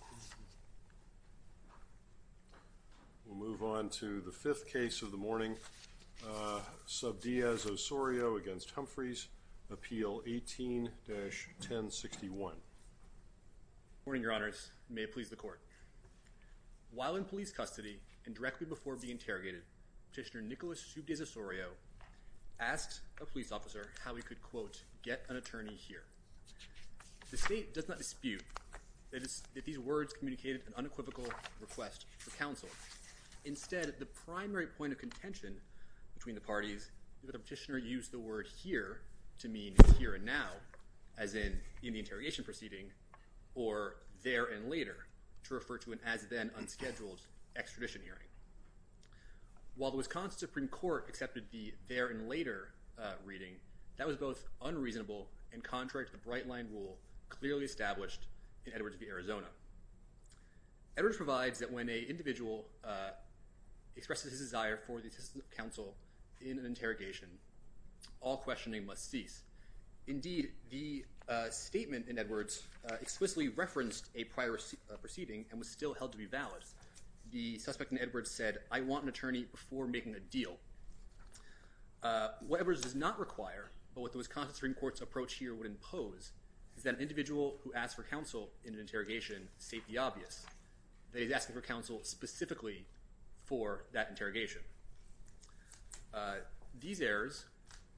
18-1061 While in police custody and directly before being interrogated, Petitioner Nicholas Subdiaz-Osorio asked a police officer how he could, quote, get an attorney here. The State does not dispute that these words communicated an unequivocal request for counsel. Instead, the primary point of contention between the parties is that Petitioner used the word here to mean here and now, as in the interrogation proceeding, or there and later, to refer to an as-then unscheduled extradition hearing. While the Wisconsin Supreme Court accepted the there and later reading, that was both unreasonable and contrary to the bright-line rule clearly established in Edwards v. Arizona. Edwards provides that when an individual expresses his desire for the assistance of counsel in an interrogation, all questioning must cease. Indeed, the statement in Edwards explicitly referenced a prior proceeding and was still held to be valid. The suspect in Edwards said, I want an attorney before making a deal. What Edwards does not require, but what the Wisconsin Supreme Court's approach here would impose, is that an individual who asks for counsel in an interrogation state the obvious. They are asking for counsel specifically for that interrogation. These errors,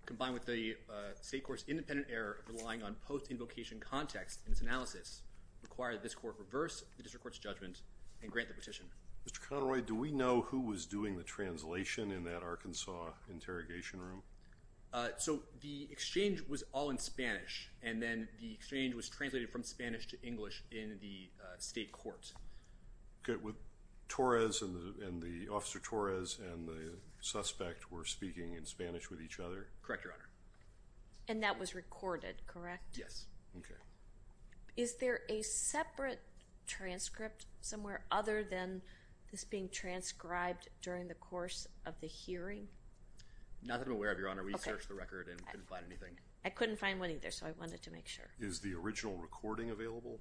combined with the State Court's independent error of relying on post-invocation context in its analysis, require that this Court reverse the District Court's judgment and grant the petition. Mr. Conroy, do we know who was doing the translation in that Arkansas interrogation room? So the exchange was all in Spanish, and then the exchange was translated from Spanish to English in the State Court. Okay, with Torres and the Officer Torres and the suspect were speaking in Spanish with each other? Correct, Your Honor. And that was recorded, correct? Yes. Okay. Is there a separate transcript somewhere other than this being transcribed during the hearing? Not that I'm aware of, Your Honor. We searched the record and couldn't find anything. I couldn't find one either, so I wanted to make sure. Is the original recording available?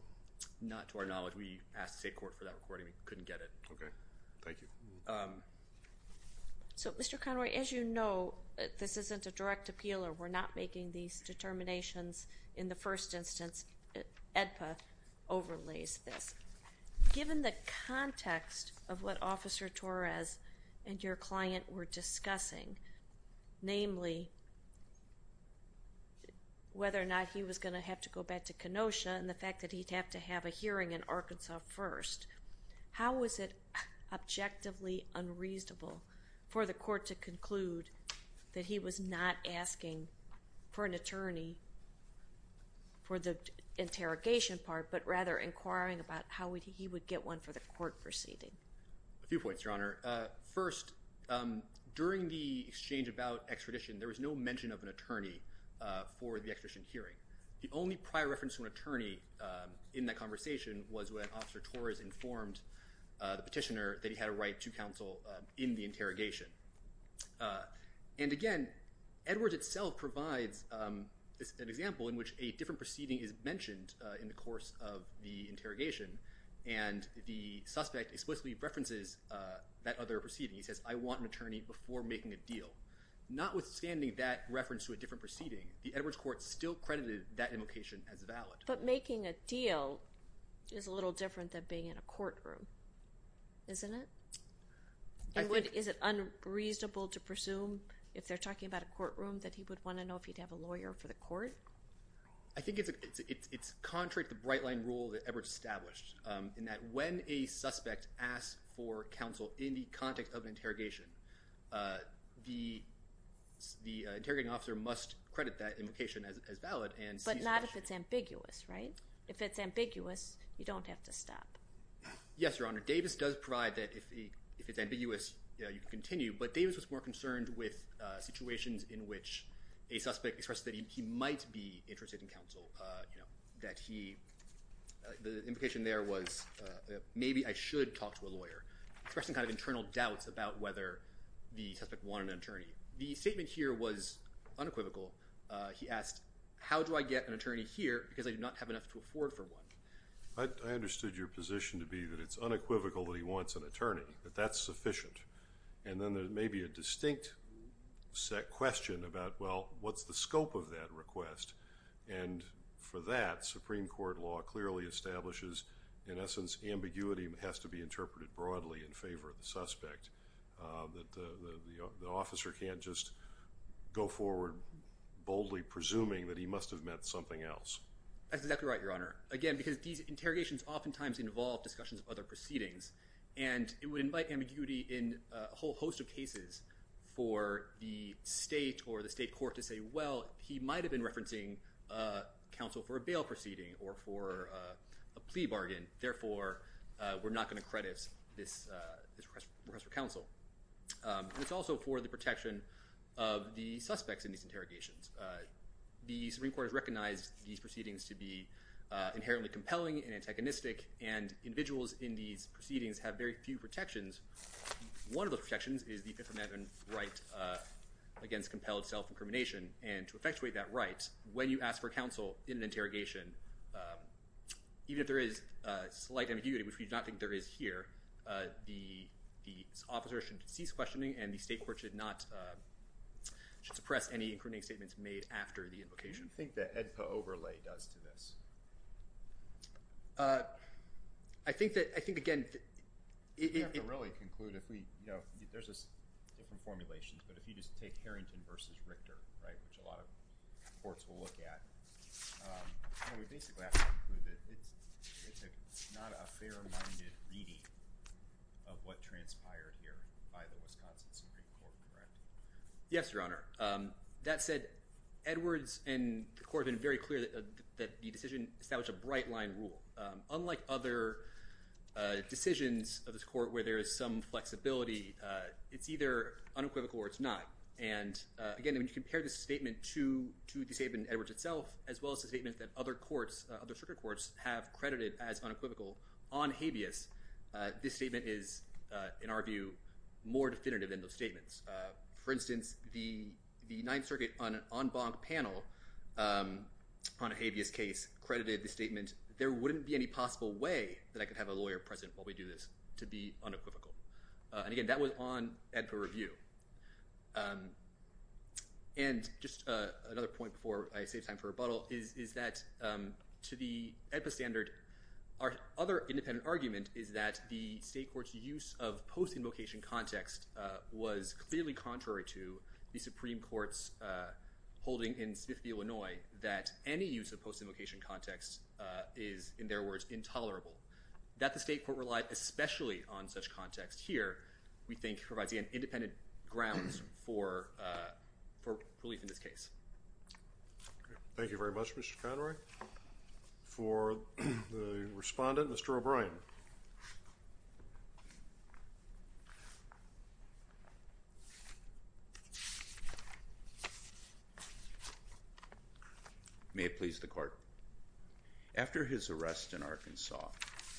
Not to our knowledge. We asked the State Court for that recording. We couldn't get it. Okay. Thank you. So, Mr. Conroy, as you know, this isn't a direct appeal, or we're not making these determinations in the first instance. EDPA overlays this. Given the context of what Officer Torres was discussing, namely whether or not he was going to have to go back to Kenosha and the fact that he'd have to have a hearing in Arkansas first, how was it objectively unreasonable for the court to conclude that he was not asking for an attorney for the interrogation part, but rather inquiring about how he would get one for the court proceeding? A few points, Your Honor. First, during the exchange about extradition, there was no mention of an attorney for the extradition hearing. The only prior reference to an attorney in that conversation was when Officer Torres informed the petitioner that he had a right to counsel in the interrogation. And again, Edwards itself provides an example in which a different proceeding is mentioned in the interrogation, and the suspect explicitly references that other proceeding. He says, I want an attorney before making a deal. Notwithstanding that reference to a different proceeding, the Edwards court still credited that invocation as valid. But making a deal is a little different than being in a courtroom, isn't it? Is it unreasonable to presume, if they're talking about a courtroom, that he would want to know if he'd have a lawyer for the court? I think it's contrary to the bright-line rule that Edwards established, in that when a suspect asks for counsel in the context of interrogation, the interrogating officer must credit that invocation as valid. But not if it's ambiguous, right? If it's ambiguous, you don't have to stop. Yes, Your Honor. Davis does provide that if it's ambiguous, you can continue. But Davis was more concerned with situations in which a suspect expressed that he might be interested in counsel, that he, the invocation there was, maybe I should talk to a lawyer, expressing kind of internal doubts about whether the suspect wanted an attorney. The statement here was unequivocal. He asked, how do I get an attorney here because I do not have enough to afford for one? I understood your position to be that it's unequivocal that he wants an attorney, that that's sufficient. And then there may be a distinct set question about, well, what's the scope of that request? And for that, Supreme Court law clearly establishes, in essence, ambiguity has to be interpreted broadly in favor of the suspect, that the officer can't just go forward boldly presuming that he must have meant something else. That's exactly right, Your Honor. Again, because these interrogations oftentimes involve discussions of other proceedings, and it would invite ambiguity in a whole host of different ways. For example, if you ask counsel for a bail proceeding or for a plea bargain, therefore, we're not going to credit this request for counsel. It's also for the protection of the suspects in these interrogations. The Supreme Court has recognized these proceedings to be inherently compelling and antagonistic, and individuals in these proceedings have very few protections. One of the protections is the infirmary right against compelled self-incrimination, and to effectuate that right, when you ask for counsel in an interrogation, even if there is slight ambiguity, which we do not think there is here, the officer should cease questioning, and the state court should suppress any incriminating statements made after the invocation. What do you think the AEDPA overlay does to this? I think that, I think, again— We have to really conclude if we, you know, there's this different formulation, but if you just take Harrington v. Richter, right, which a lot of courts will look at, we basically have to conclude that it's not a fair-minded reading of what transpired here by the Wisconsin Supreme Court, correct? Yes, Your Honor. That said, Edwards and the court have been very clear that the decision established a court where there is some flexibility. It's either unequivocal or it's not, and again, when you compare this statement to the statement in Edwards itself, as well as the statement that other courts, other circuit courts, have credited as unequivocal on habeas, this statement is, in our view, more definitive than those statements. For instance, the Ninth Circuit on an en banc panel on a habeas case credited the statement, there wouldn't be any possible way that I could have a lawyer present while we do this, to be unequivocal. And again, that was on AEDPA review. And just another point before I save time for rebuttal is that, to the AEDPA standard, our other independent argument is that the state court's use of post-invocation context was clearly contrary to the Supreme Court's holding in Smith v. Illinois that any use of post-invocation context was, in other words, intolerable. That the state court relied especially on such context here, we think, provides, again, independent grounds for relief in this case. Thank you very much, Mr. Conroy. For the respondent, Mr. O'Brien. May it please the court. After his arrest in Arkansas,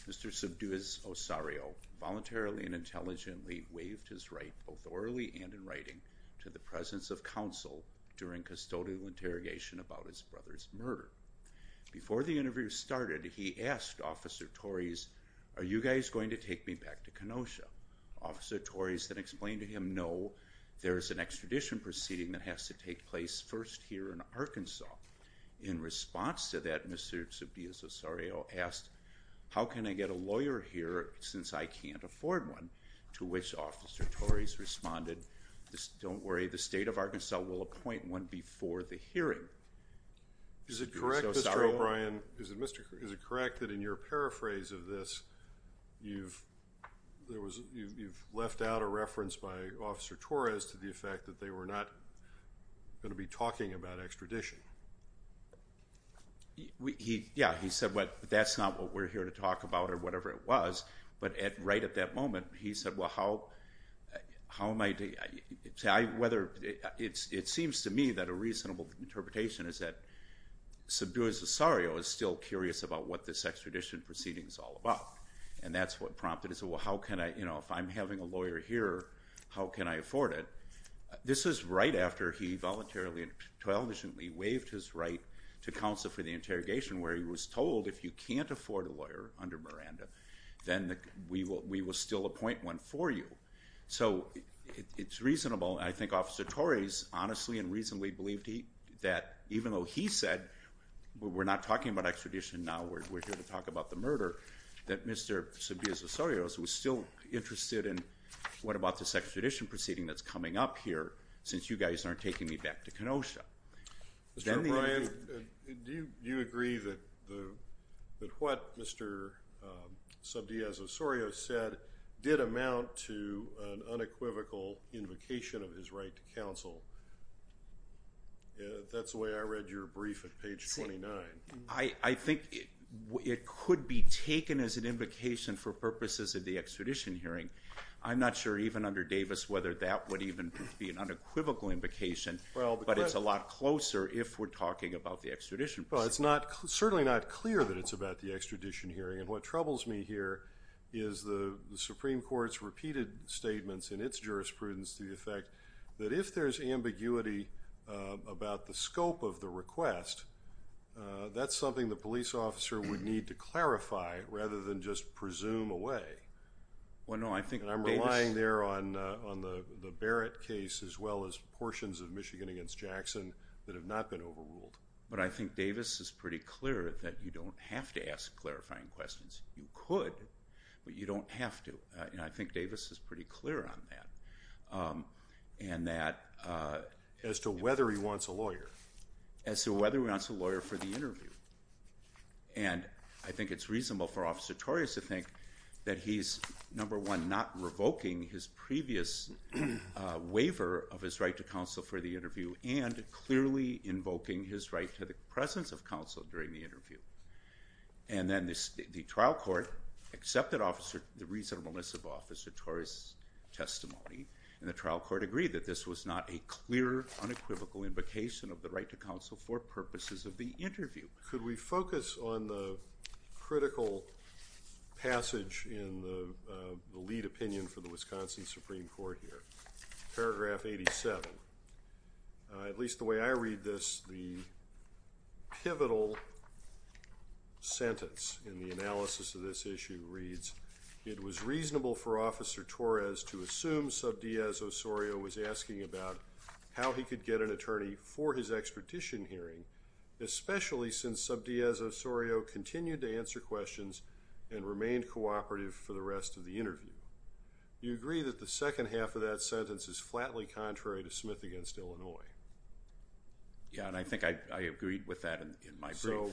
Mr. Subduez-Osario voluntarily and intelligently waived his right, both orally and in writing, to the presence of counsel during custodial interrogation about his brother's murder. Before the interview started, he asked Officer Torres, are you guys going to take me back to Kenosha? Officer Torres then explained to him, no, there is an extradition proceeding that has to take place first here in Arkansas. In response to that, Mr. Subduez-Osario asked, how can I get a lawyer here since I can't afford one? To which Officer Torres responded, don't worry, the state of Arkansas will appoint one before the hearing. Is it correct, Mr. O'Brien, is it correct that in your paraphrase of this, you've left out a reference by Officer Torres to the effect that they were not going to be talking about extradition? Yeah, he said that's not what we're here to talk about or whatever it was, but right at that point in the interrogation is that Subduez-Osario is still curious about what this extradition proceeding is all about, and that's what prompted it, so how can I, you know, if I'm having a lawyer here, how can I afford it? This is right after he voluntarily and intelligently waived his right to counsel for the interrogation where he was told if you can't afford a lawyer under Miranda, then we will still appoint one for you. So it's reasonable, I think Officer Torres honestly and even though he said we're not talking about extradition now, we're here to talk about the murder, that Mr. Subduez-Osario was still interested in what about this extradition proceeding that's coming up here since you guys aren't taking me back to Kenosha. Mr. O'Brien, do you agree that what Mr. Subduez-Osario said did amount to an unequivocal invocation of his right to counsel? That's the way I read your brief at page 29. I think it could be taken as an invocation for purposes of the extradition hearing. I'm not sure even under Davis whether that would even be an unequivocal invocation, but it's a lot closer if we're talking about the extradition proceeding. It's certainly not clear that it's about the extradition hearing, and what troubles me here is the Supreme Court's repeated statements in its jurisprudence to the effect that if there's ambiguity about the scope of the request, that's something the police officer would need to clarify rather than just presume away. Well no, I think I'm relying there on the Barrett case as well as portions of Michigan against Jackson that have not been overruled. But I think Davis is pretty clear that you don't have to ask clarifying questions. You could, but you don't have to, and I think Davis is pretty clear on that. And that as to whether he wants a lawyer. As to whether he wants a lawyer for the interview, and I think it's reasonable for Officer Torias to think that he's number one not revoking his previous waiver of his right to counsel for the interview and clearly invoking his right to the presence of counsel during the interview. And then the trial court accepted Officer, the reasonableness of Officer Torias testimony, and the trial court agreed that this was not a clear unequivocal invocation of the right to counsel for purposes of the interview. Could we focus on the critical passage in the lead opinion for the Wisconsin Supreme Court here? Paragraph 87. At least the way I read this, the pivotal sentence in the analysis of this issue reads, it was reasonable for Officer Torias to assume Subdiaz Osorio was asking about how he could get an attorney for his expertise hearing, especially since Subdiaz Osorio continued to answer questions and remained cooperative for the rest of the interview. You agree that the second half of that sentence is flatly contrary to Smith against my view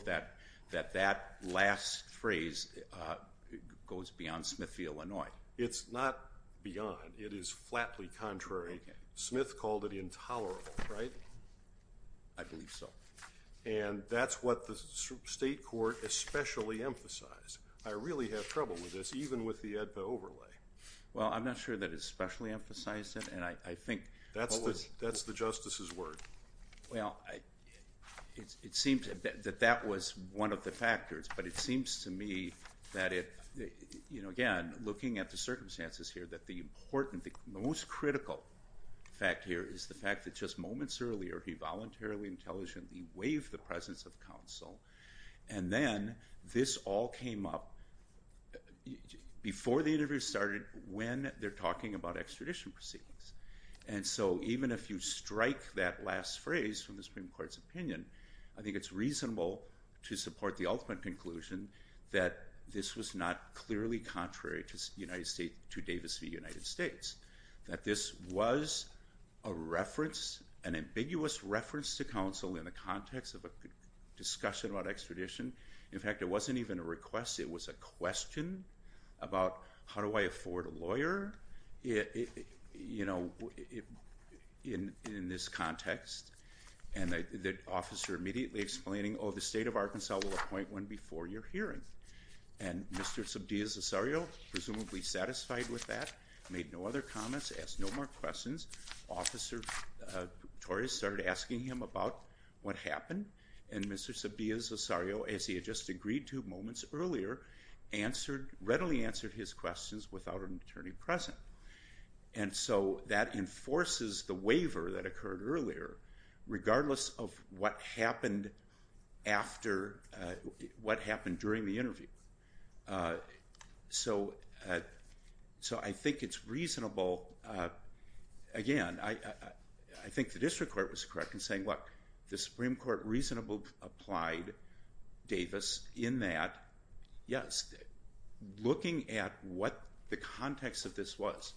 that that last phrase goes beyond Smith v. Illinois. It's not beyond, it is flatly contrary. Smith called it intolerable, right? I believe so. And that's what the state court especially emphasized. I really have trouble with this, even with the AEDPA overlay. Well I'm not sure that it that that was one of the factors, but it seems to me that it, you know, again looking at the circumstances here that the important, the most critical fact here is the fact that just moments earlier he voluntarily, intelligently waived the presence of counsel and then this all came up before the interview started when they're talking about extradition proceedings. And so even if you support the ultimate conclusion that this was not clearly contrary to United States, to Davis v. United States, that this was a reference, an ambiguous reference to counsel in the context of a discussion about extradition. In fact, it wasn't even a request, it was a question about how do I afford a lawyer? You know, in this context and the officer immediately explaining oh the state of Arkansas will appoint one before your hearing. And Mr. Subbias-Ossorio, presumably satisfied with that, made no other comments, asked no more questions. Officer Torres started asking him about what happened and Mr. Subbias-Ossorio, as he had just agreed to moments earlier, answered, readily answered his questions without an attorney present. And so that enforces the waiver that occurred earlier, regardless of what happened during the interview. So I think it's reasonable, again, I think the district court was correct in saying look, the Supreme Court reasonably applied Davis in that, yes, looking at what the context of this was.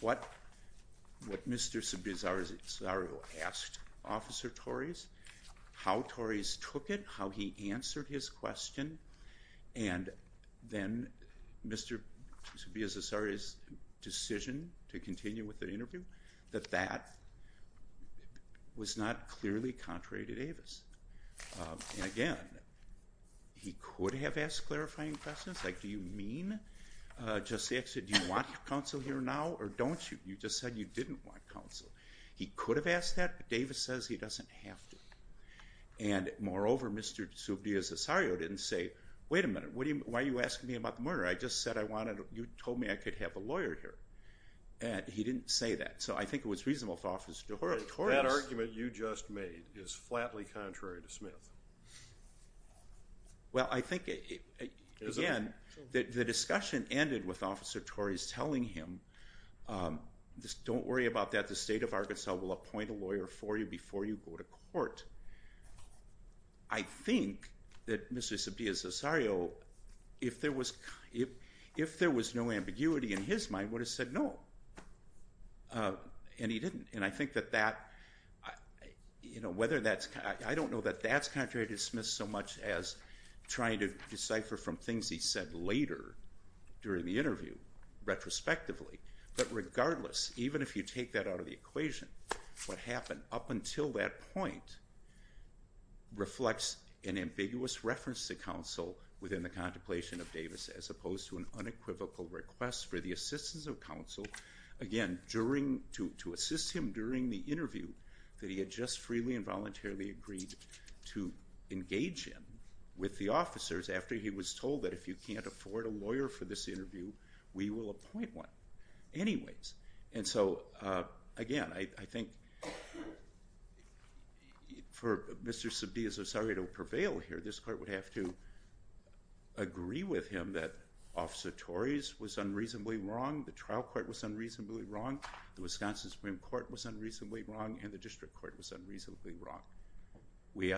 What Mr. Subbias-Ossorio asked Officer Torres, how Torres took it, how he answered his question, and then Mr. Subbias-Ossorio's decision to continue with the interview, that that was not clearly contrary to Davis. And again, he could have asked clarifying questions, like do you mean, do you want counsel here now, or don't you? You just said you didn't want counsel. He could have asked that, but Davis says he doesn't have to. And moreover, Mr. Subbias-Ossorio didn't say, wait a minute, why are you asking me about the murder? I just said I wanted, you told me I could have a lawyer here. And he didn't say that. So I think it was reasonable for Officer Torres. That argument you just made is flatly contrary to Smith. Well, I think, again, the discussion ended with Officer Torres telling him, just don't worry about that. The state of Arkansas will appoint a lawyer for you before you go to court. I think that Mr. Subbias-Ossorio, if there was no ambiguity in his mind, would have said no. And he didn't. And I don't know that that's contrary to Smith so much as trying to decipher from things he said later during the interview, retrospectively. But regardless, even if you take that out of the equation, what happened up until that point reflects an ambiguous reference to counsel within the contemplation of Davis, as opposed to an unequivocal request for the assistance of a lawyer. He voluntarily agreed to engage him with the officers after he was told that if you can't afford a lawyer for this interview, we will appoint one. Anyways. And so, again, I think, for Mr. Subbias-Ossorio to prevail here, this court would have to agree with him that Officer Torres was unreasonably wrong, the trial court was unreasonably wrong, the Wisconsin Supreme Court was unreasonably wrong, and the district court was unreasonably wrong. We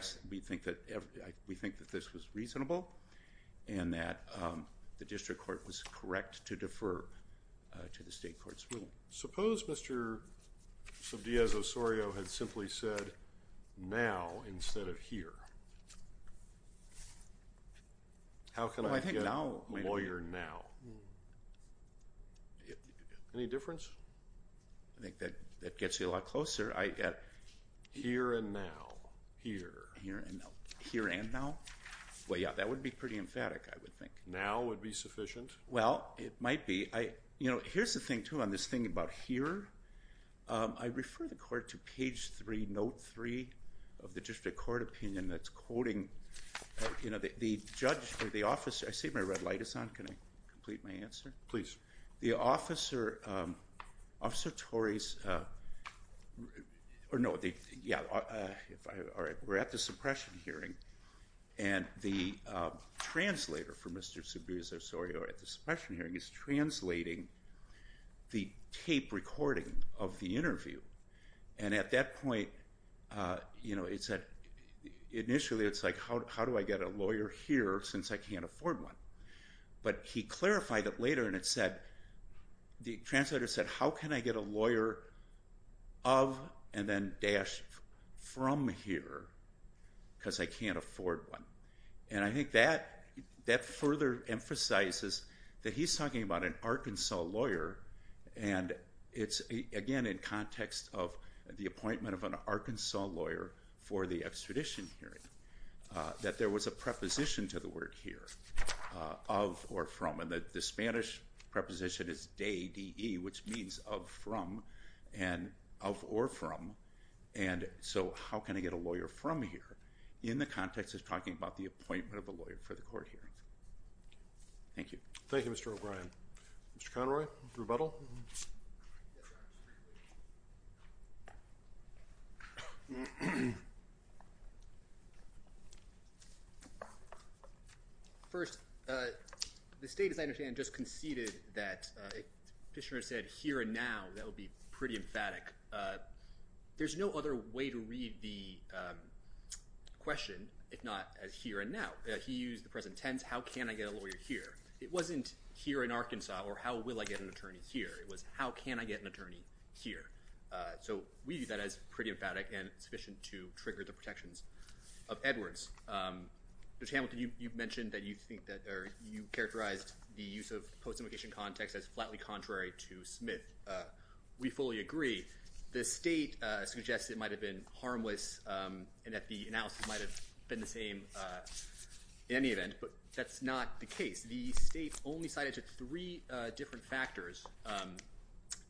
think that this was reasonable and that the district court was correct to defer to the state court's ruling. Suppose Mr. Subbias-Ossorio had simply said now instead of here. How can I get a lawyer now? Any difference? I think that gets you a lot closer. Here and now. Here and now? Well, yeah, that would be pretty emphatic, I would think. Now would be sufficient? Well, it might be. You know, here's the thing, too, on this thing about here. I refer the court to page 3, note 3 of the district court opinion that's quoting, you know, the judge or the officer, I see my red light is on, can I complete my answer? Please. The officer, Officer Torres, or no, yeah, all right, we're at the suppression hearing and the translator for Mr. Subbias-Ossorio at the suppression hearing is translating the tape recording of the interview. And at that point, you know, initially it's like how do I get a lawyer here since I can't afford one? But he clarified it later and it said, the translator said how can I get a lawyer of and then dashed from here because I can't afford one. And I think that further emphasizes that he's talking about an Arkansas lawyer and it's, again, in context of the appointment of an Arkansas lawyer for the extradition hearing, that there was a preposition to the word here, of or from, and that the Spanish preposition is de, which means of from, and of or from, and so how can I get a lawyer from here in the context of talking about the appointment of a Mr. Conroy, rebuttal? First, the state, as I understand, just conceded that, Fisher said here and now, that would be pretty emphatic. There's no other way to read the question, if not as here and now. He used the present tense, how can I get a lawyer here? It wasn't here in Arkansas or how will I get an attorney here? It was how can I get an attorney here? So we use that as pretty emphatic and sufficient to trigger the protections of Edwards. Mr. Hamilton, you mentioned that you think that, or you characterized the use of post-invocation context as flatly contrary to Smith. We fully agree. The state suggests it might have been harmless and that the analysis might have been the same in any event, but that's not the case. The state only cited to three different factors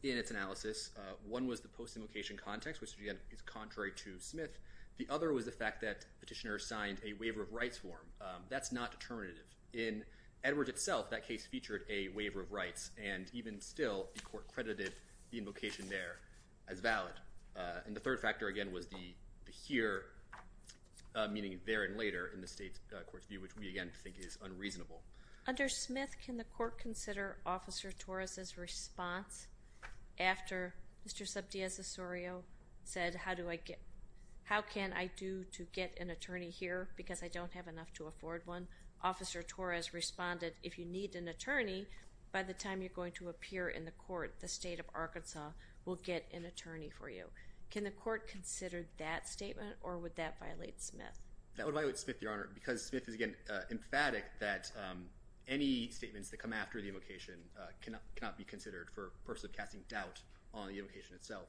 in its analysis. One was the post-invocation context, which is contrary to Smith. The other was the fact that petitioner signed a waiver of rights form. That's not determinative. In Edwards itself, that case featured a waiver of rights and even still, the court credited the invocation there as valid. And the third factor again was the here, meaning there and later in the state's court's view, which we again think is unreasonable. Under Smith, can the court consider Officer Torres' response after Mr. Subdeas Osorio said, how can I do to get an attorney here because I don't have enough to afford one? Officer Torres responded, if you need an attorney, by the time you're going to appear in the court, the state of Arkansas will get an attorney for you. Can the court consider that statement or would that violate Smith? That would violate Smith, Your Honor, because Smith is, again, emphatic that any statements that come after the invocation cannot be considered for personally casting doubt on the invocation itself.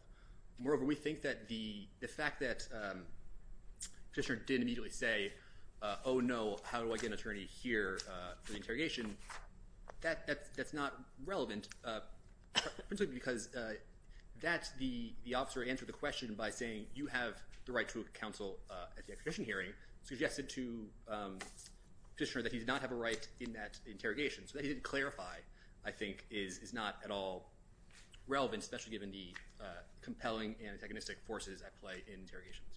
Moreover, we think that the fact that petitioner didn't immediately say, oh, no, how do I get an attorney here for the interrogation? That's not relevant, because that's the officer answered the question by saying, you have the right to counsel at the acquisition hearing, suggested to petitioner that he did not have a right in that interrogation. So that he didn't clarify, I think, is not at all relevant, especially given the compelling and antagonistic forces at play in interrogations.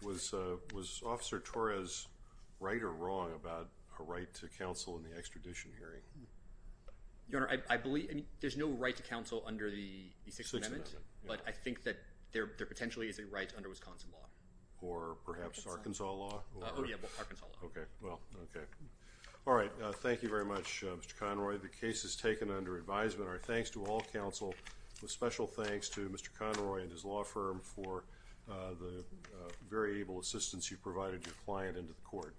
Was Officer Torres right or wrong about a right to counsel in the extradition hearing? Your Honor, I believe, I mean, there's no right to counsel under the Sixth Amendment, but I think that there potentially is a right under Wisconsin law. Or perhaps Arkansas law? Oh, yeah, Arkansas law. Okay, well, okay. All right. Thank you very much, Mr. Conroy. The case is taken under advisement. Our thanks to all counsel. A special thanks to Mr. Conroy and his law firm for the very able assistance you provided your client into the court.